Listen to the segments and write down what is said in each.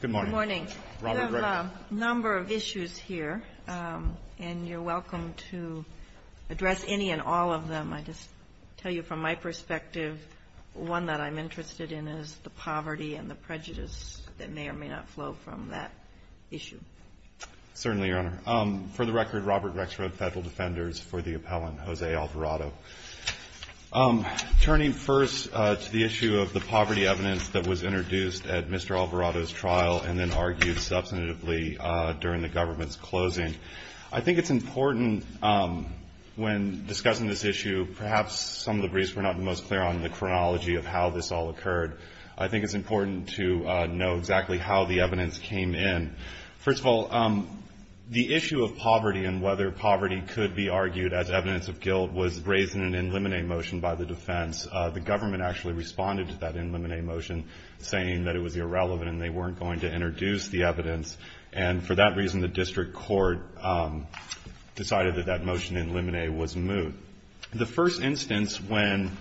Good morning. We have a number of issues here, and you're welcome to address any and all of them. I'll just tell you from my perspective, one that I'm interested in is the poverty and the prejudice that may or may not flow from that issue. Certainly, Your Honor. For the record, Robert Rexrod, federal defenders for the appellant Jose Alvarado. Turning first to the issue of the poverty evidence that was introduced at Mr. Alvarado's trial and then argued substantively during the government's closing, I think it's important when discussing this issue, perhaps some of the briefs were not the most clear on the chronology of how this all occurred, I think it's important to know exactly how the evidence came in. First of all, the issue of poverty and whether poverty could be argued as evidence of guilt was raised in an in limine motion by the defense. The government actually responded to that in limine motion saying that it was irrelevant and they weren't going to introduce the evidence, and for that reason the district court decided that that motion in limine was moot. The first instance when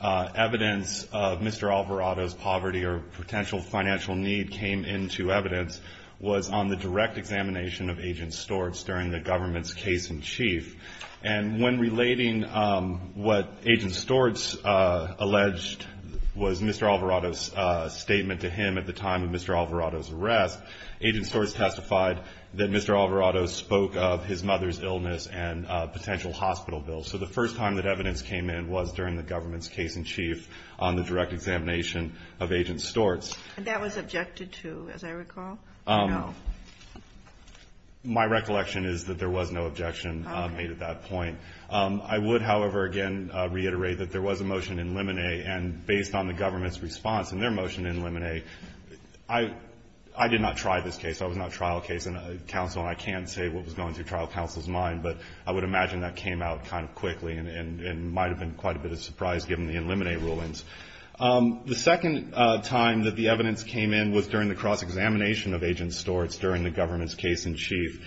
evidence of Mr. Alvarado's poverty or potential financial need came into evidence was on the direct examination of Agent Stortz during the government's case in chief. And when relating what Agent Stortz alleged was Mr. Alvarado's statement to him at the time of Mr. Alvarado's arrest, Agent Stortz testified that Mr. Alvarado spoke of his mother's illness and potential hospital bills. So the first time that evidence came in was during the government's case in chief on the direct examination of Agent Stortz. And that was objected to, as I recall? No. My recollection is that there was no objection made at that point. I would, however, again reiterate that there was a motion in limine, and based on the government's response in their motion in limine, I did not try this case. I was not trial case counsel, and I can't say what was going through trial counsel's mind, but I would imagine that came out kind of quickly and might have been quite a bit of surprise given the in limine rulings. The second time that the evidence came in was during the cross-examination of Agent Stortz during the government's case in chief.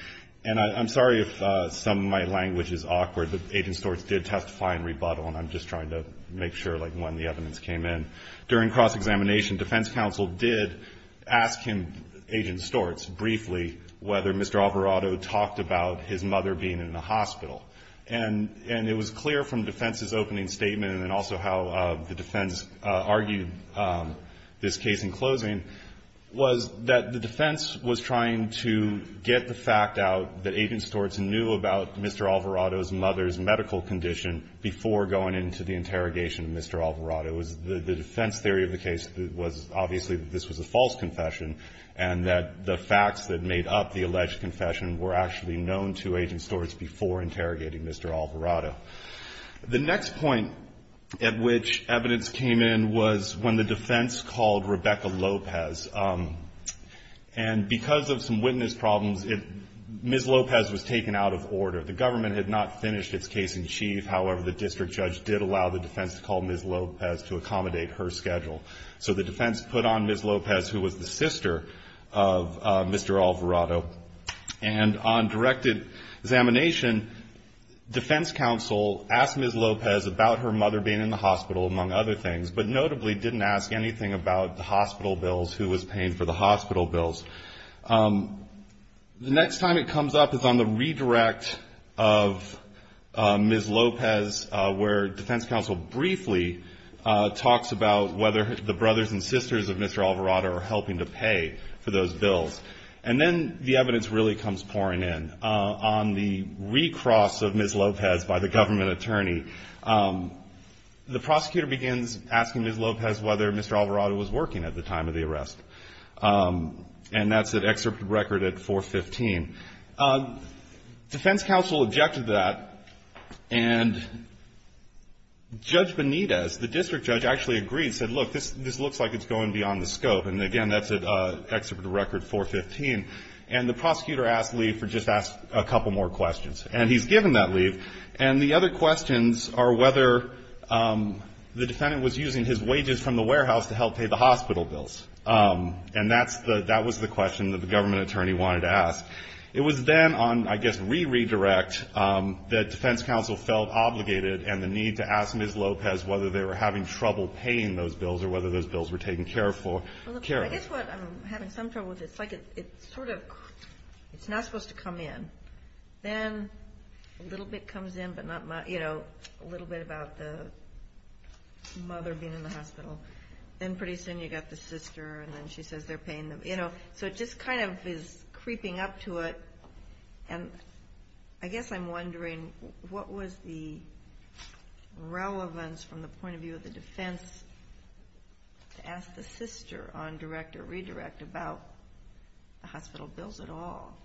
And I'm sorry if some of my language is awkward, but Agent Stortz did testify in rebuttal, and I'm just trying to make sure when the evidence came in. During cross-examination, defense counsel did ask him, Agent Stortz, briefly whether Mr. Alvarado talked about his mother being in the hospital. And it was known to Agent Stortz before interrogating Mr. Alvarado. The next point at which evidence came in was that the defense was trying to get the fact out that Agent Stortz knew about Mr. Alvarado's mother's medical condition before going into the interrogation of Mr. Alvarado. The defense theory of the case was obviously this was a false confession, and that the facts that made up the alleged confession were actually known to Agent Stortz before interrogating Mr. Alvarado. The next point at which evidence came in was when the defense called Rebecca Lopez. And because of some witness problems, Ms. Lopez was taken out of order. The government had not finished its case in chief. However, the district judge did allow the defense to call Ms. Lopez to accommodate her schedule. So the defense put on Ms. Lopez, who was the sister of Mr. Alvarado. And on directed examination, defense counsel asked Ms. Lopez about her mother being in the hospital, among other things, but notably didn't ask anything about the hospital bills, who was paying for the hospital bills. The next time it comes up is on the redirect of Ms. Lopez, where defense counsel briefly talks about whether the brothers and sisters of Mr. Alvarado are helping to pay for those bills. And then the evidence really comes pouring in. On the recross of Ms. Lopez, who is a government attorney, the prosecutor begins asking Ms. Lopez whether Mr. Alvarado was working at the time of the arrest. And that's at excerpt of record at 415. Defense counsel objected to that. And Judge Benitez, the district judge, actually agreed, said, look, this looks like it's going beyond the scope. And again, that's at excerpt of record 415. And the prosecutor asked leave for just a couple more questions. And he's given that leave. And the other questions are whether the defendant was using his wages from the warehouse to help pay the hospital bills. And that was the question that the government attorney wanted to ask. It was then on, I guess, re-redirect that defense counsel felt obligated and the need to ask Ms. Lopez whether they were having trouble paying those bills or whether those bills were taken care of. Well, look, I guess what I'm having some trouble with, it's like it's sort of, it's not supposed to come in. Then a little bit comes in, but not much, you know, a little bit about the mother being in the hospital. Then pretty soon you got the sister, and then she says they're paying them, you know. So it just kind of is creeping up to it. And I guess I'm wondering what was the relevance, from the point of view of the defense, to ask the sister of undirect or redirect about the hospital bills at all?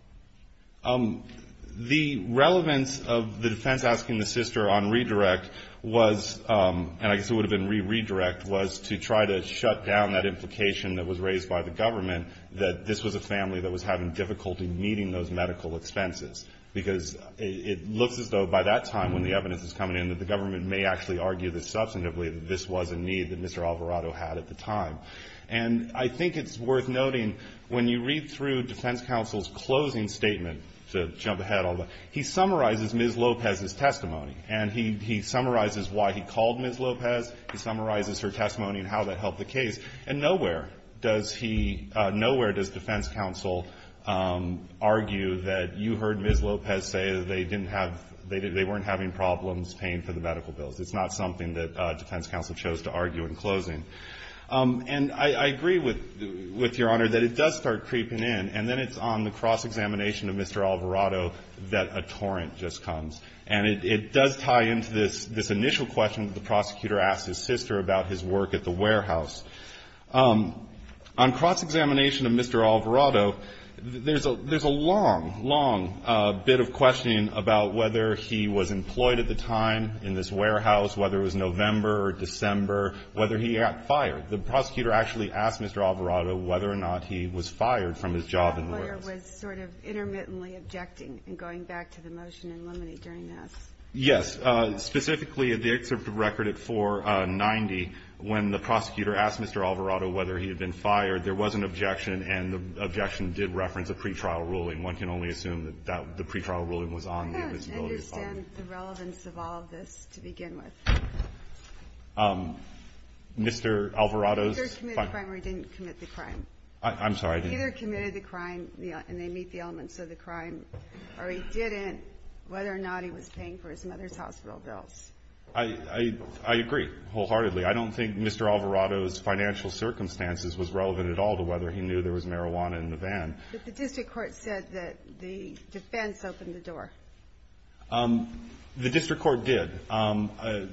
The relevance of the defense asking the sister on redirect was, and I guess it would have been re-redirect, was to try to shut down that implication that was raised by the government that this was a family that was having difficulty meeting those medical expenses. Because it looks as though by that time, when the evidence is coming in, that the government may actually argue that substantively this was a need that Mr. Alvarado had at the time. And I think it's worth noting, when you read through defense counsel's closing statement, to jump ahead all the way, he summarizes Ms. Lopez's testimony. And he summarizes why he called Ms. Lopez. He summarizes her testimony and how that helped the case. And nowhere does he, nowhere does defense counsel argue that you heard Ms. Lopez say that they didn't have, they weren't having problems paying for the medical bills. It's not something that defense counsel chose to argue in closing. And I agree with Your Honor that it does start creeping in. And then it's on the cross examination of Mr. Alvarado that a torrent just comes. And it does tie into this initial question that the prosecutor asked his sister about his work at the warehouse. On cross-examination of Mr. Alvarado, there's a long, long bit of questioning about whether he was employed at the time in this warehouse, whether it was November or December, whether he got fired. The prosecutor actually asked Mr. Alvarado whether or not he was fired from his job in the warehouse. The employer was sort of intermittently objecting and going back to the motion and Yes. Specifically, the excerpt of the record at 490, when the prosecutor asked Mr. Alvarado whether he had been fired, there was an objection, and the objection did reference a pretrial ruling. One can only assume that that, the pretrial ruling was on the invisibility department. I don't understand the relevance of all of this to begin with. Mr. Alvarado's fine. Either he committed the crime or he didn't commit the crime. I'm sorry. He either committed the crime and they meet the elements of the crime or he didn't, whether or not he was paying for his mother's hospital bills. I agree wholeheartedly. I don't think Mr. Alvarado's financial circumstances was relevant at all to whether he knew there was marijuana in the van. The district court said that the defense opened the door. The district court did. The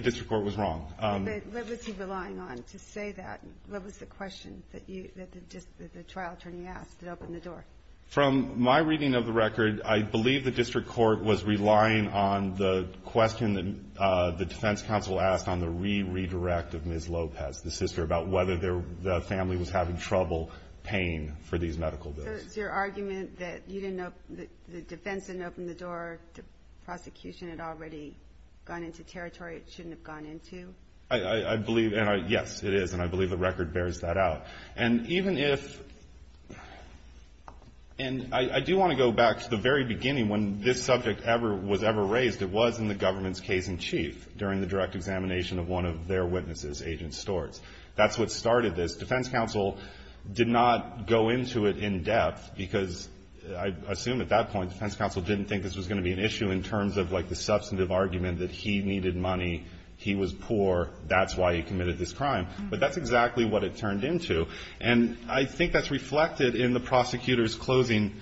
district court was wrong. What was he relying on to say that? What was the question that the trial attorney asked that opened the door? From my reading of the record, I believe the district court was relying on the question that the defense counsel asked on the re-redirect of Ms. Lopez, the sister, about whether the family was having trouble paying for these medical bills. So it's your argument that you didn't know, the defense didn't open the door, the prosecution had already gone into territory it shouldn't have gone into? I believe, and yes, it is, and I believe the record bears that out. And even if, and I do want to go back to the very beginning when this subject was ever raised. It was in the government's case in chief during the direct examination of one of their witnesses, Agent Stortz. That's what started this. Defense counsel did not go into it in depth because I assume at that point defense counsel didn't think this was going to be an issue in terms of like the substantive argument that he needed money, he was poor, that's why he committed this crime. But that's exactly what it turned into. And I think that's reflected in the prosecutor's closing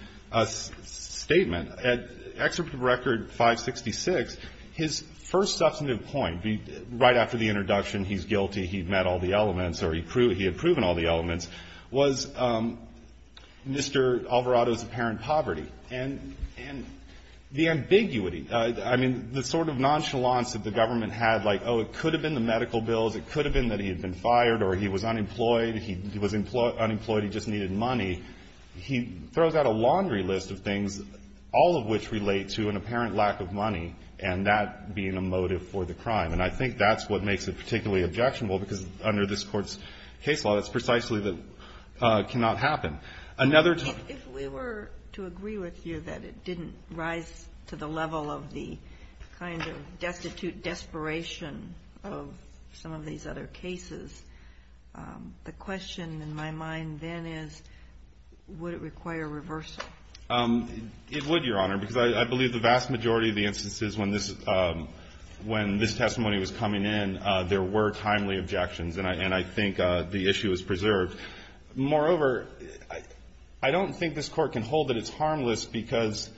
statement. At Excerpt of Record 566, his first substantive point, right after the introduction he's guilty, he met all the elements or he had proven all the elements, was Mr. Alvarado's apparent poverty. And the ambiguity, I mean, the sort of nonchalance that the government had, like, you know, it could have been the medical bills, it could have been that he had been fired or he was unemployed, he was unemployed, he just needed money, he throws out a laundry list of things, all of which relate to an apparent lack of money and that being a motive for the crime. And I think that's what makes it particularly objectionable because under this Court's case law, it's precisely that it cannot happen. Another time If we were to agree with you that it didn't rise to the level of the kind of destitute desperation of some of these other cases, the question in my mind then is, would it require reversal? It would, Your Honor, because I believe the vast majority of the instances when this testimony was coming in, there were timely objections and I think the issue was preserved. Moreover, I don't think this Court can hold that it's harmless because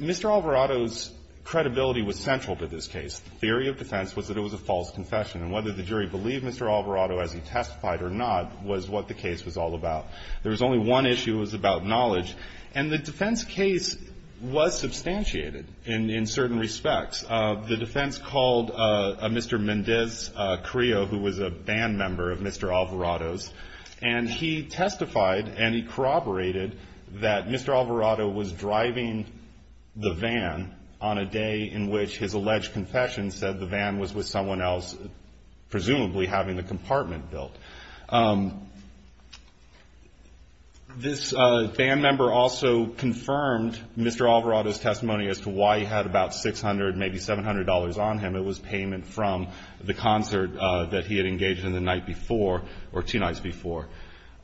Mr. Alvarado's credibility was central to this case. The theory of defense was that it was a false confession and whether the jury believed Mr. Alvarado as he testified or not was what the case was all about. There was only one issue. It was about knowledge. And the defense case was substantiated in certain respects. The defense called Mr. Mendez-Creo, who was a band member of Mr. Alvarado's, and he testified and he corroborated that Mr. Alvarado was driving the van on a day in which his alleged confession said the van was with someone else, presumably having the compartment built. This band member also confirmed Mr. Alvarado's testimony as to why he had about $600, maybe $700 on him. It was payment from the concert that he had engaged in the night before or two nights before.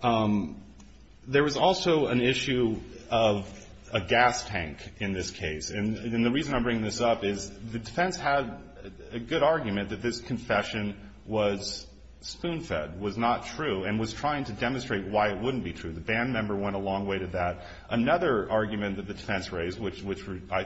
There was also an issue of a gas tank in this case. And the reason I'm bringing this up is the defense had a good argument that this confession was spoon-fed, was not true, and was trying to demonstrate why it wouldn't be true. The band member went a long way to that. Another argument that the defense raised, which I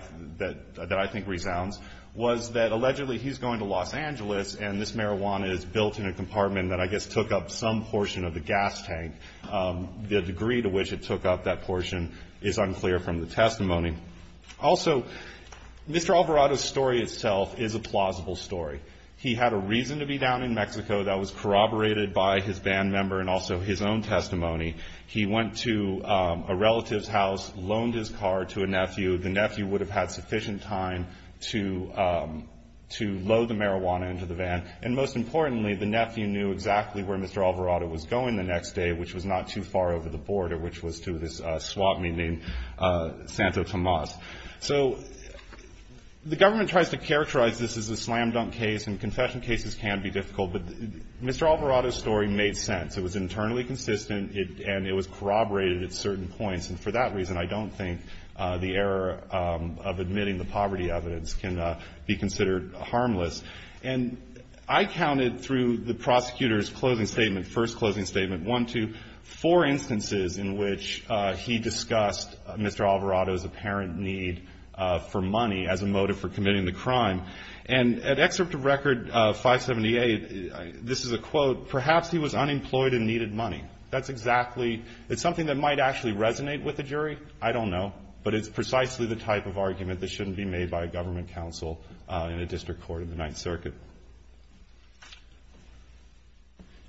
think resounds, was that allegedly he's going to Los Angeles and this marijuana is built in a compartment that I guess took up some portion of the gas tank. The degree to which it took up that portion is unclear from the testimony. Also, Mr. Alvarado's story itself is a plausible story. He had a reason to be down in Mexico that was corroborated by his band member and also his own testimony. He went to a relative's house, loaned his car to a nephew. The nephew would have had sufficient time to load the marijuana into the van. And most importantly, the nephew knew exactly where Mr. Alvarado was going the next day, which was not too far over the border, which was to this swap meet named Santo Tomas. So the government tries to characterize this as a slam-dunk case, and confession cases can be difficult. But Mr. Alvarado's story made sense. It was internally consistent. And it was corroborated at certain points. And for that reason, I don't think the error of admitting the poverty evidence can be considered harmless. And I counted through the prosecutor's closing statement, first closing statement, one, two, four instances in which he discussed Mr. Alvarado's apparent need for money as a motive for committing the crime. And at Excerpt of Record 578, this is a quote, perhaps he was unemployed and needed money. That's exactly, it's something that might actually resonate with the jury. I don't know. But it's precisely the type of argument that shouldn't be made by a government counsel in a district court in the Ninth Circuit.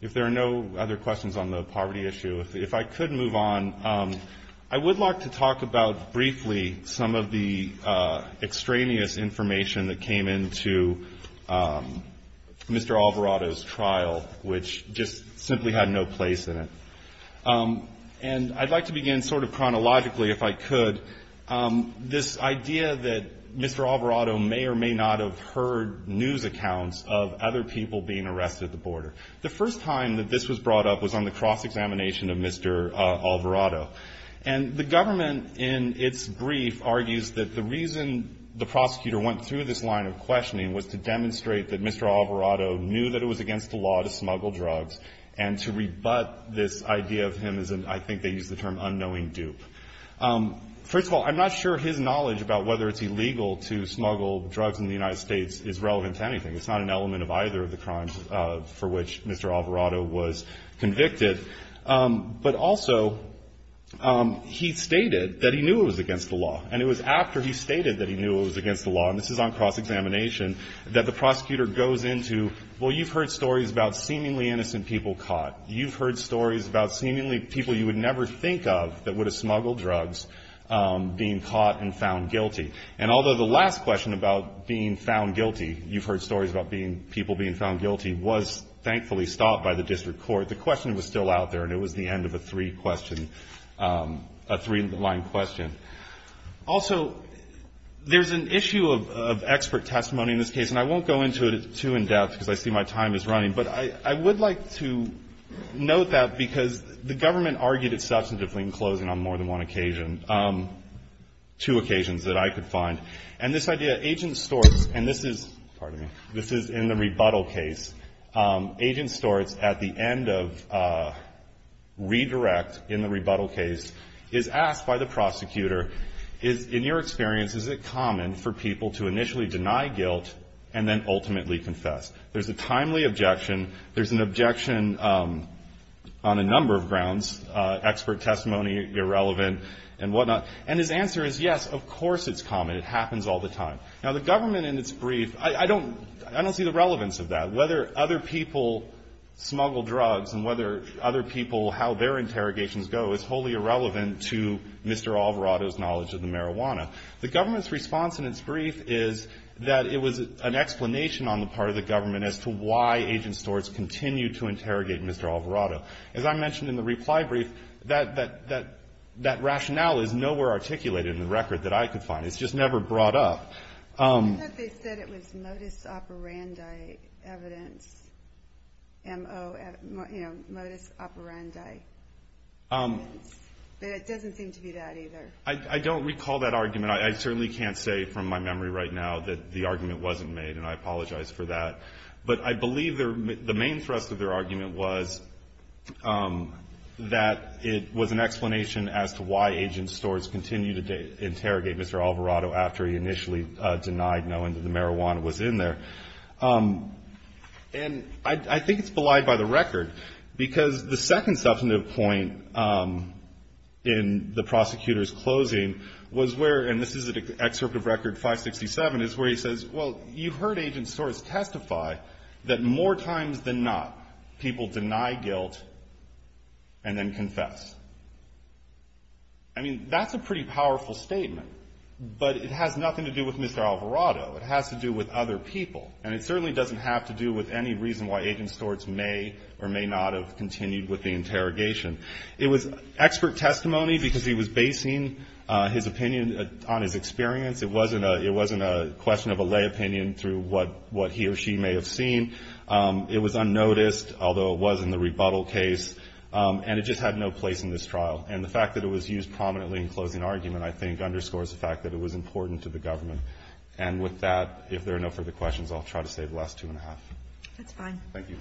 If there are no other questions on the poverty issue, if I could move on, I would like to talk about briefly some of the extraneous information that came into Mr. Alvarado's trial, which just simply had no place in it. And I'd like to begin sort of chronologically, if I could, this idea that Mr. Alvarado may or may not have heard news accounts of other people being arrested at the border. The first time that this was brought up was on the cross-examination of Mr. Alvarado. And the government, in its brief, argues that the reason the prosecutor went through this line of questioning was to demonstrate that Mr. Alvarado knew that it was against the law to smuggle drugs and to rebut this idea of him as an, I think they used the term, unknowing dupe. First of all, I'm not sure his knowledge about whether it's illegal to smuggle drugs in the United States is relevant to anything. It's not an element of either of the crimes for which Mr. Alvarado was convicted. But also, he stated that he knew it was against the law. And it was after he stated that he knew it was against the law, and this is on cross-examination, that the prosecutor goes into, well, you've heard stories about seemingly innocent people caught. You've heard stories about seemingly people you would never think of that would have smuggled drugs being caught and found guilty. And although the last question about being found guilty, you've heard stories about people being found guilty, was thankfully stopped by the district court. The question was still out there, and it was the end of a three-question, a three-line question. Also, there's an issue of expert testimony in this case, and I won't go into it too in-depth because I see my time is running. But I would like to note that because the government argued it substantively in closing on more than one occasion, two occasions that I could find. And this idea, Agent Stortz, and this is, pardon me, this is in the rebuttal case, Agent Stortz at the end of redirect in the rebuttal case is asked by the prosecutor, in your experience, is it common for people to initially deny guilt and then ultimately confess? There's a timely objection. There's an objection on a number of grounds, expert testimony irrelevant and whatnot. And his answer is, yes, of course it's common. It happens all the time. Now, the government in its brief, I don't see the relevance of that. Whether other people smuggle drugs and whether other people, how their interrogations go is wholly irrelevant to Mr. Alvarado's knowledge of the marijuana. The government's response in its brief is that it was an explanation on the part of the government as to why Agent Stortz continued to interrogate Mr. Alvarado. As I mentioned in the reply brief, that rationale is nowhere articulated in the record that I could find. It's just never brought up. I thought they said it was modus operandi evidence, M-O, you know, modus operandi evidence, but it doesn't seem to be that either. I don't recall that argument. I certainly can't say from my memory right now that the argument wasn't made, and I apologize for that. But I believe the main thrust of their argument was that it was an explanation as to why Agent Stortz continued to interrogate Mr. Alvarado after he initially denied knowing that the marijuana was in there. And I think it's belied by the record, because the second substantive point in the prosecutor's closing was where, and this is an excerpt of Record 567, is where he says, well, you heard Agent Stortz testify that more times than not, people deny guilt and then confess. I mean, that's a pretty powerful statement. But it has nothing to do with Mr. Alvarado. It has to do with other people. And it certainly doesn't have to do with any reason why Agent Stortz may or may not have continued with the interrogation. It was expert testimony, because he was basing his opinion on his experience. It wasn't a question of a lay opinion through what he or she may have seen. It was unnoticed, although it was in the rebuttal case, and it just had no place in this trial. And the fact that it was used prominently in closing argument, I think, underscores the fact that it was important to the government. And with that, if there are no further questions, I'll try to save the last two and a half. That's fine. Thank you.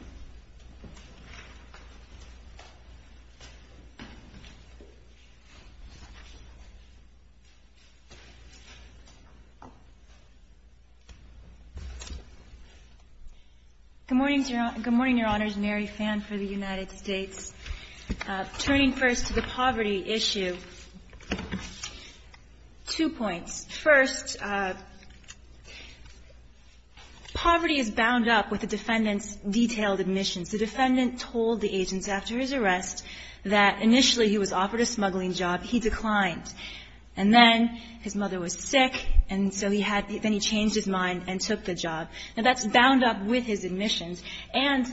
Good morning, Your Honor. Good morning, Your Honors. Mary Phan for the United States. Turning first to the poverty issue, two points. First, poverty is bound up with the defendant's detailed admissions. The defendant told the agents after his arrest that initially he was offered a smuggling job. He declined. And then his mother was sick, and so he had to change his mind and took the job. Now, that's bound up with his admissions, and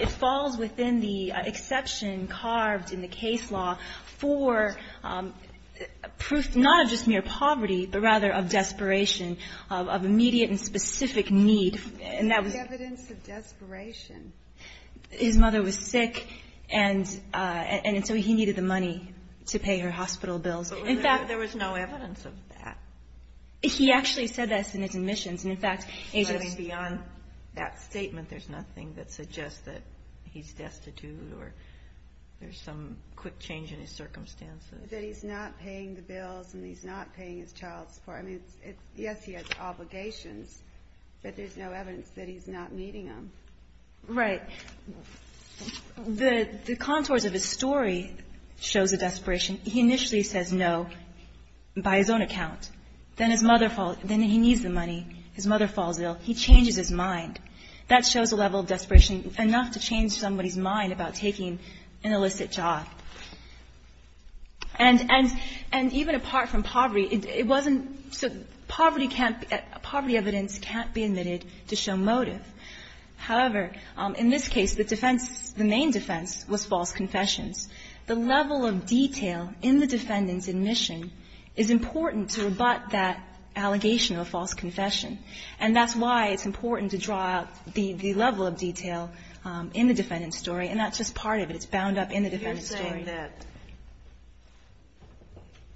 it falls within the exception of the case law for proof not of just mere poverty, but rather of desperation, of immediate and specific need. And that was the evidence of desperation. His mother was sick, and so he needed the money to pay her hospital bills. In fact, there was no evidence of that. He actually said this in his admissions. And, in fact, agents beyond that statement, there's nothing that suggests that he's destitute or there's some quick change in his circumstances. That he's not paying the bills and he's not paying his child's support. I mean, yes, he has obligations, but there's no evidence that he's not needing them. Right. The contours of his story shows the desperation. He initially says no by his own account. Then his mother falls. Then he needs the money. His mother falls ill. He changes his mind. That shows a level of desperation enough to change somebody's mind about taking an illicit job. And even apart from poverty, it wasn't so – poverty can't – poverty evidence can't be admitted to show motive. However, in this case, the defense, the main defense was false confessions. The level of detail in the defendant's admission is important to rebut that allegation of false confession. And that's why it's important to draw out the level of detail in the defendant's story. And that's just part of it. It's bound up in the defendant's story. You're saying that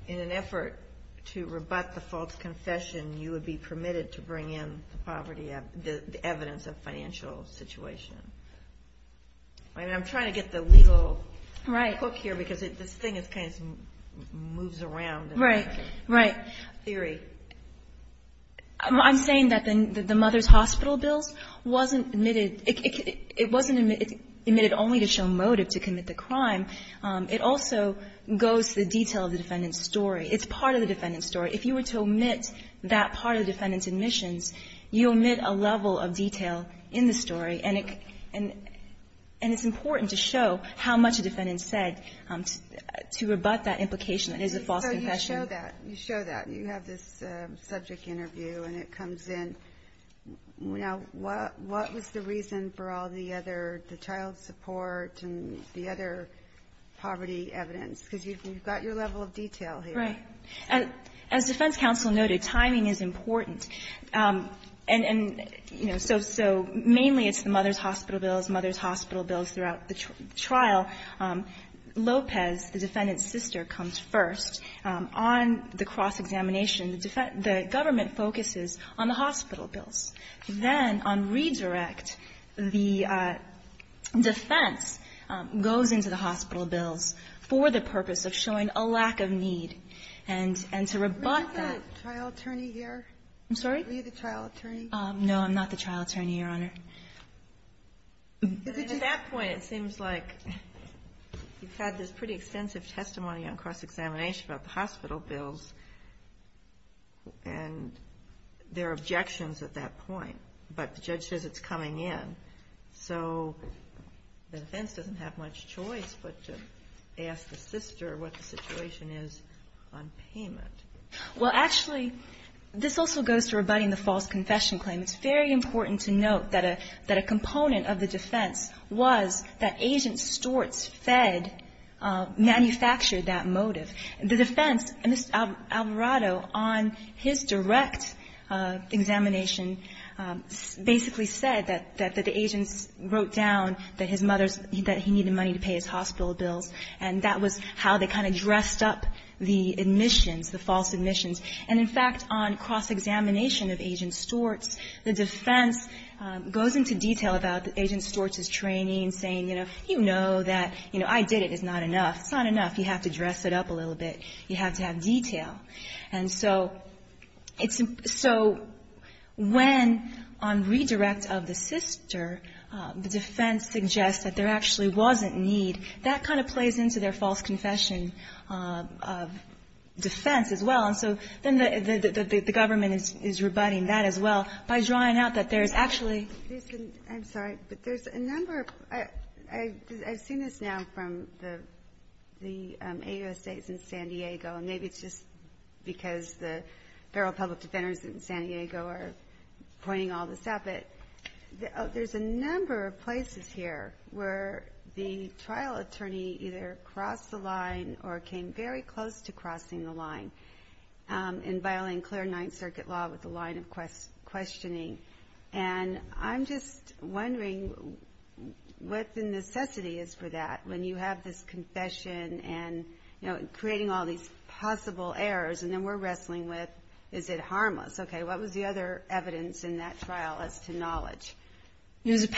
in an effort to rebut the false confession, you would be permitted to bring in the evidence of financial situation. I'm trying to get the legal hook here because this thing kind of moves around. Right. Theory. I'm saying that the mother's hospital bills wasn't admitted – it wasn't admitted only to show motive to commit the crime. It also goes to the detail of the defendant's story. It's part of the defendant's story. If you were to omit that part of the defendant's admissions, you omit a level of detail in the story. And it's important to show how much a defendant said to rebut that implication that it is a false confession. So you show that. You show that. You have this subject interview, and it comes in. Now, what was the reason for all the other – the child support and the other poverty evidence? Because you've got your level of detail here. Right. And as defense counsel noted, timing is important. And, you know, so mainly it's the mother's hospital bills, mother's hospital bills throughout the trial. Lopez, the defendant's sister, comes first on the cross-examination. The government focuses on the hospital bills. Then on redirect, the defense goes into the hospital bills for the purpose of showing a lack of need and to rebut that. Are you the trial attorney here? I'm sorry? Are you the trial attorney? No, I'm not the trial attorney, Your Honor. To that point, it seems like you've had this pretty extensive testimony on cross-examination about the hospital bills, and there are objections at that point. But the judge says it's coming in. So the defense doesn't have much choice but to ask the sister what the situation is on payment. Well, actually, this also goes to rebutting the false confession claim. It's very important to note that a component of the defense was that Agent Stortz fed, manufactured that motive. The defense, Mr. Alvarado, on his direct examination basically said that the agent wrote down that his mother's, that he needed money to pay his hospital bills, and that was how they kind of dressed up the admissions, the false admissions. And, in fact, on cross-examination of Agent Stortz, the defense goes into detail about Agent Stortz's training, saying, you know, you know that, you know, I did it. It's not enough. It's not enough. You have to dress it up a little bit. You have to have detail. And so it's so when on redirect of the sister, the defense suggests that there actually wasn't need, that kind of plays into their false confession defense as well. And so then the government is rebutting that as well by drawing out that there's actually. I'm sorry, but there's a number of, I've seen this now from the AUSAs in San Diego, and maybe it's just because the federal public defenders in San Diego are pointing all this out, but there's a number of places here where the trial attorney either crossed the line or came very close to crossing the line in violating clear Ninth Circuit law with the line of questioning. And I'm just wondering what the necessity is for that when you have this confession and, you know, creating all these possible errors, and then we're wrestling with, is it harmless? Okay, what was the other evidence in that trial as to knowledge? It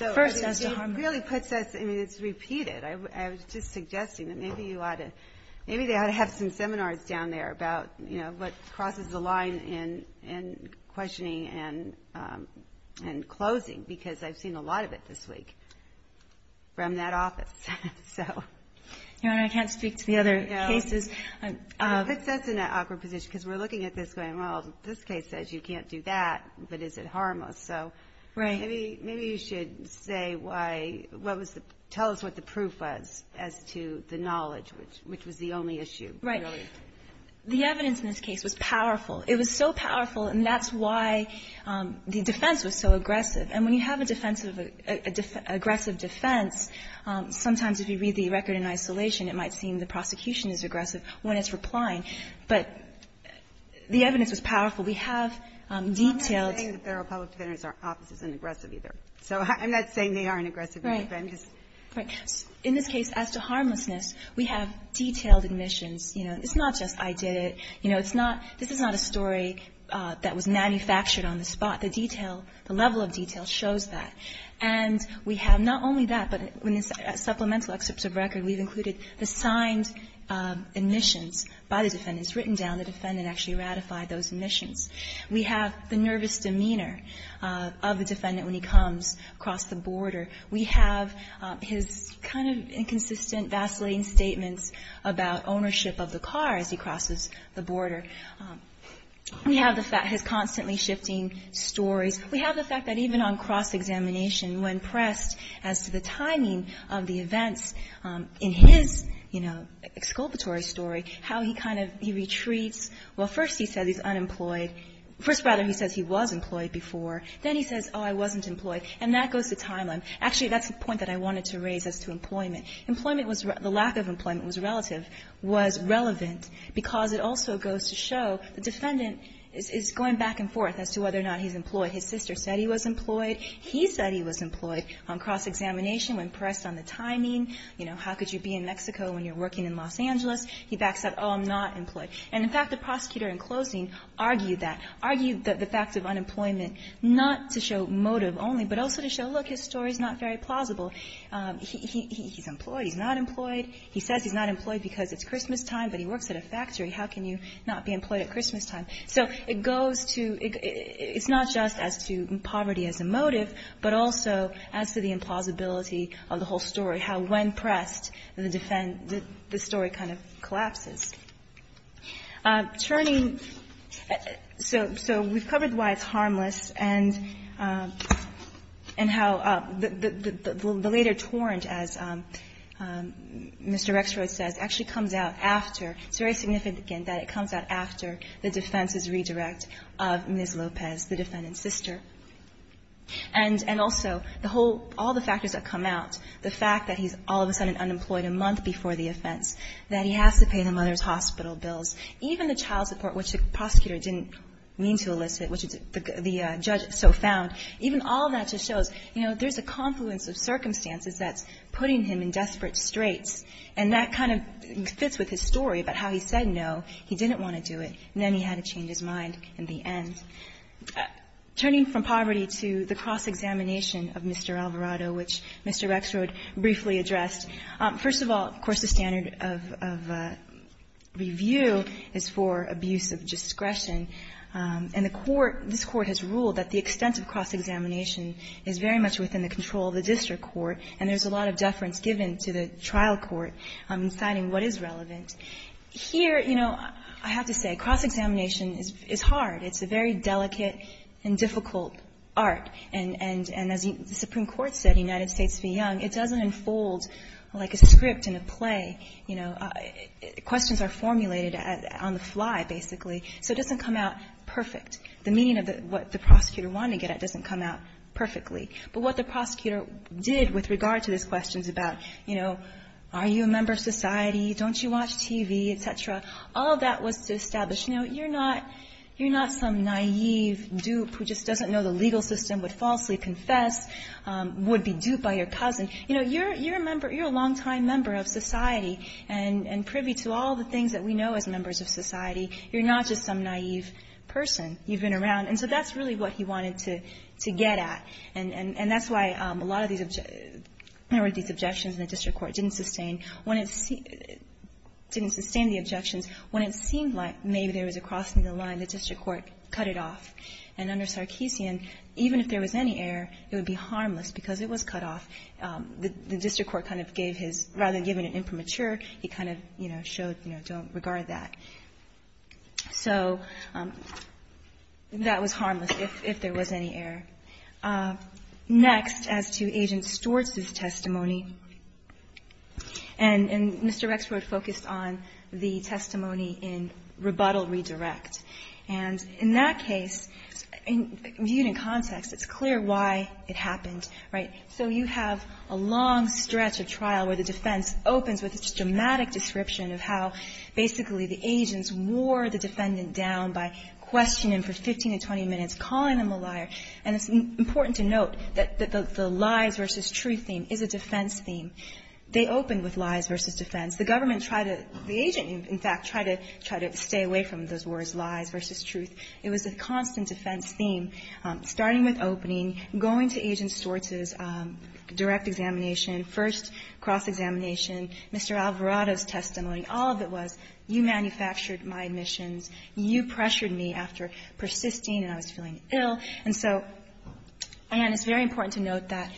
really puts us, I mean, it's repeated. I was just suggesting that maybe you ought to, maybe they ought to have some seminars down there about, you know, what crosses the line in questioning and closing, because I've seen a lot of it this week from that office. So. Your Honor, I can't speak to the other cases. It puts us in an awkward position because we're looking at this going, well, this case says you can't do that, but is it harmless? So maybe you should say why, what was the, tell us what the proof was as to the knowledge, which was the only issue. Right. The evidence in this case was powerful. It was so powerful, and that's why the defense was so aggressive. And when you have a defensive, aggressive defense, sometimes if you read the record in isolation, it might seem the prosecution is aggressive when it's replying. But the evidence was powerful. We have detailed. I'm not saying the Federal Public Defender's Office isn't aggressive either. So I'm not saying they are an aggressive defense. Right. In this case, as to harmlessness, we have detailed admissions. You know, it's not just I did it. You know, it's not, this is not a story that was manufactured on the spot. The detail, the level of detail shows that. We have the signed admissions by the defendants written down. The defendant actually ratified those admissions. We have the nervous demeanor of the defendant when he comes across the border. We have his kind of inconsistent, vacillating statements about ownership of the car as he crosses the border. We have the fact, his constantly shifting stories. We have the fact that even on cross-examination, when pressed as to the timing of the events, in his, you know, exculpatory story, how he kind of, he retreats. Well, first he says he's unemployed. First, rather, he says he was employed before. Then he says, oh, I wasn't employed. And that goes to timeline. Actually, that's the point that I wanted to raise as to employment. Employment was, the lack of employment was relative, was relevant, because it also goes to show the defendant is going back and forth as to whether or not he's employed. His sister said he was employed. He said he was employed. On cross-examination, when pressed on the timing, you know, how could you be in Mexico when you're working in Los Angeles, he backs up, oh, I'm not employed. And, in fact, the prosecutor in closing argued that, argued the fact of unemployment not to show motive only, but also to show, look, his story is not very plausible. He's employed. He's not employed. He says he's not employed because it's Christmastime, but he works at a factory. How can you not be employed at Christmastime? So it goes to, it's not just as to poverty as a motive, but also as to the implausibility of the whole story, how when pressed, the story kind of collapses. Turning, so we've covered why it's harmless and how the later torrent, as Mr. Rexroth says, actually comes out after. It's very significant that it comes out after the defense's redirect of Ms. Lopez, the defendant's sister. And also the whole, all the factors that come out, the fact that he's all of a sudden unemployed a month before the offense, that he has to pay the mother's hospital bills, even the child support, which the prosecutor didn't mean to elicit, which the judge so found, even all that just shows, you know, there's a confluence of circumstances that's putting him in desperate straits. And that kind of fits with his story about how he said no, he didn't want to do it, and then he had to change his mind in the end. Turning from poverty to the cross-examination of Mr. Alvarado, which Mr. Rexroth briefly addressed, first of all, of course, the standard of review is for abuse of discretion, and the Court, this Court has ruled that the extent of cross-examination is very much within the control of the district court, and there's a lot of deference given to the trial court in deciding what is relevant. Here, you know, I have to say, cross-examination is hard. It's a very delicate and difficult art. And as the Supreme Court said, United States v. Young, it doesn't unfold like a script in a play. You know, questions are formulated on the fly, basically, so it doesn't come out perfect. The meaning of what the prosecutor wanted to get at doesn't come out perfectly. But what the prosecutor did with regard to this question is about, you know, are you a member of society, don't you watch TV, et cetera, all that was to establish, you know, you're not some naive dupe who just doesn't know the legal system, would falsely confess, would be duped by your cousin. You know, you're a member, you're a long-time member of society and privy to all the things that we know as members of society. You're not just some naive person. You've been around. And so that's really what he wanted to get at. And that's why a lot of these objections in the district court didn't sustain the objections. When it seemed like maybe there was a crossing the line, the district court cut it off. And under Sarkeesian, even if there was any error, it would be harmless because it was cut off. The district court kind of gave his, rather than giving an imprimatur, he kind of, you know, showed, you know, don't regard that. So that was harmless, if there was any error. Next, as to Agent Stewart's testimony, and Mr. Rexford focused on the testimony in rebuttal redirect. And in that case, viewed in context, it's clear why it happened, right? So you have a long stretch of trial where the defense opens with its dramatic description of how basically the agents wore the defendant down by questioning for 15 to 20 minutes, calling them a liar. And it's important to note that the lies versus truth theme is a defense theme. They opened with lies versus defense. The government tried to – the agent, in fact, tried to stay away from those words lies versus truth. It was a constant defense theme, starting with opening, going to Agent Stewart's direct examination, first cross-examination, Mr. Alvarado's testimony. All of it was, you manufactured my admissions, you pressured me after persisting and I was feeling ill. And so, and it's very important to note that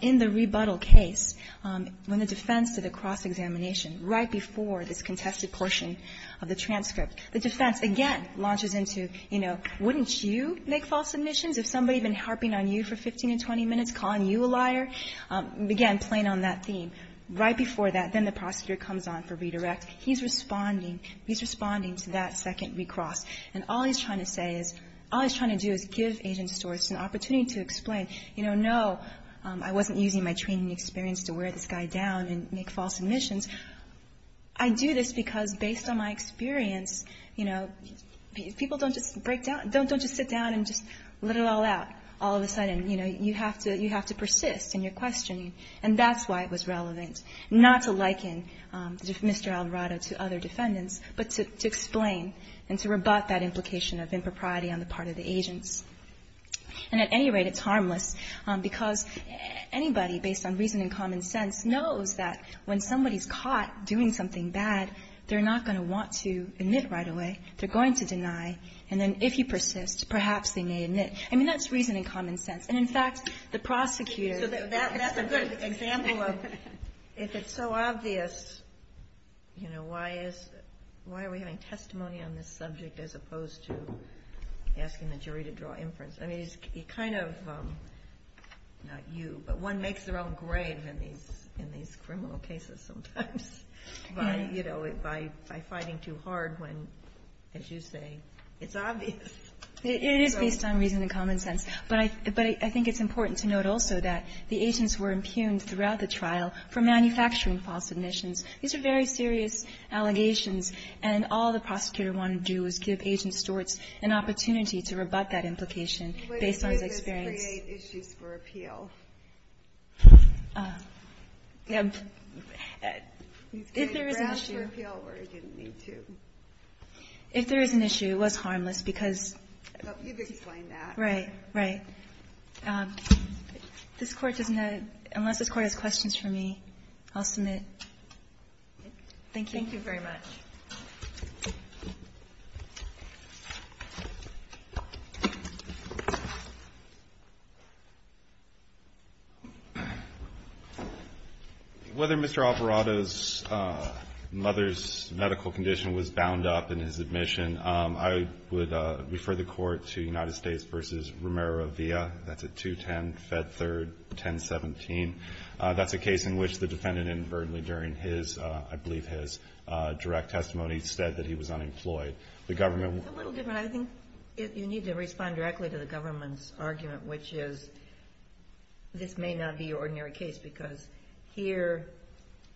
in the rebuttal case, when the defense did a cross-examination right before this contested portion of the transcript, the defense again launches into, you know, wouldn't you make false admissions if somebody had been harping on you for 15 to 20 minutes, calling you a liar? Again, playing on that theme. Right before that, then the prosecutor comes on for redirect. He's responding. He's responding to that second recross. And all he's trying to say is – all he's trying to do is give Agent Stewart an opportunity to explain, you know, no, I wasn't using my training experience to wear this guy down and make false admissions. I do this because based on my experience, you know, people don't just break down and just let it all out all of a sudden. You know, you have to persist in your questioning. And that's why it was relevant not to liken Mr. Alvarado to other defendants, but to explain and to rebut that implication of impropriety on the part of the agents. And at any rate, it's harmless because anybody, based on reason and common sense, knows that when somebody's caught doing something bad, they're not going to want to admit right away. They're going to deny. And then if you persist, perhaps they may admit. I mean, that's reason and common sense. And in fact, the prosecutor – So that's a good example of if it's so obvious, you know, why is – why are we having testimony on this subject as opposed to asking the jury to draw inference? I mean, it's kind of – not you, but one makes their own grave in these criminal cases sometimes by, you know, by fighting too hard when, as you say, it's obvious. It is based on reason and common sense. But I think it's important to note also that the agents were impugned throughout the trial for manufacturing false admissions. These are very serious allegations. And all the prosecutor wanted to do was give Agent Stortz an opportunity to rebut that implication based on his experience. But it doesn't create issues for appeal. If there is an issue – He's getting a brash repeal where he didn't need to. If there is an issue, it was harmless because – You've explained that. Right. Right. This Court doesn't have – unless this Court has questions for me, I'll submit. Thank you. Thank you very much. Thank you. Whether Mr. Alvarado's mother's medical condition was bound up in his admission, I would refer the Court to United States v. Romero-Avia. That's at 210 Fed 3rd, 1017. That's a case in which the defendant inadvertently during his – I believe his direct testimony said that he was unemployed. The government – It's a little different. I think you need to respond directly to the government's argument, which is this may not be your ordinary case because here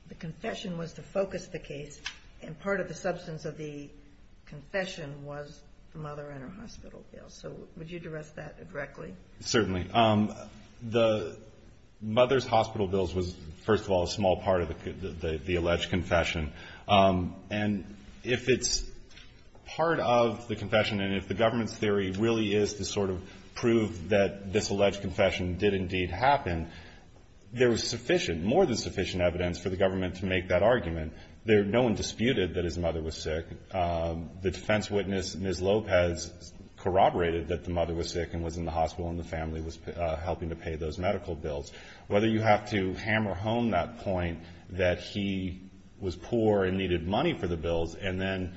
the confession was the focus of the case. And part of the substance of the confession was the mother and her hospital bills. So would you address that directly? Certainly. The mother's hospital bills was, first of all, a small part of the alleged confession. And if it's part of the confession and if the government's theory really is to sort of prove that this alleged confession did indeed happen, there was sufficient – more than sufficient evidence for the government to make that argument. No one disputed that his mother was sick. The defense witness, Ms. Lopez, corroborated that the mother was sick and was in the hospital and the family was helping to pay those medical bills. Whether you have to hammer home that point that he was poor and needed money for the bills and then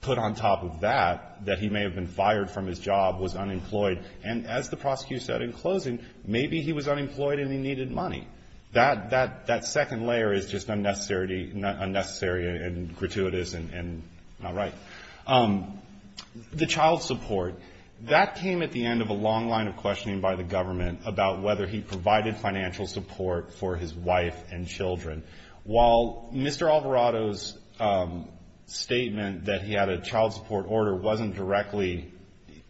put on top of that, that he may have been fired from his job, was unemployed. And as the prosecutor said in closing, maybe he was unemployed and he needed money. That second layer is just unnecessary and gratuitous and not right. The child support. That came at the end of a long line of questioning by the government about whether he provided financial support for his wife and children. While Mr. Alvarado's statement that he had a child support order wasn't directly –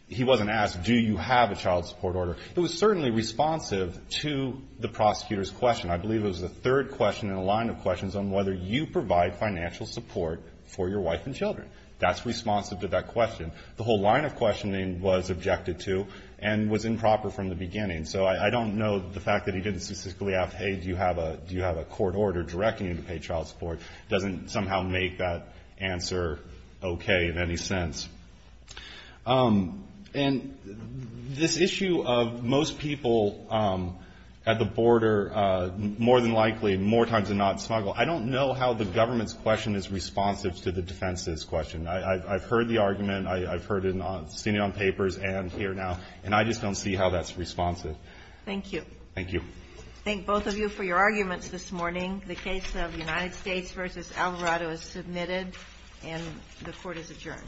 he wasn't asked, do you have a child support order? It was certainly responsive to the prosecutor's question. I believe it was the third question in a line of questions on whether you provide financial support for your wife and children. That's responsive to that question. The whole line of questioning was objected to and was improper from the beginning. So I don't know the fact that he didn't specifically ask, hey, do you have a court order directing you to pay child support doesn't somehow make that answer okay in any sense. And this issue of most people at the border more than likely, more times than not, smuggle, I don't know how the government's question is responsive to the defense's question. I've heard the argument. I've seen it on papers and here now. And I just don't see how that's responsive. Thank you. Thank you. Thank both of you for your arguments this morning. The case of United States v. Alvarado is submitted and the court is adjourned.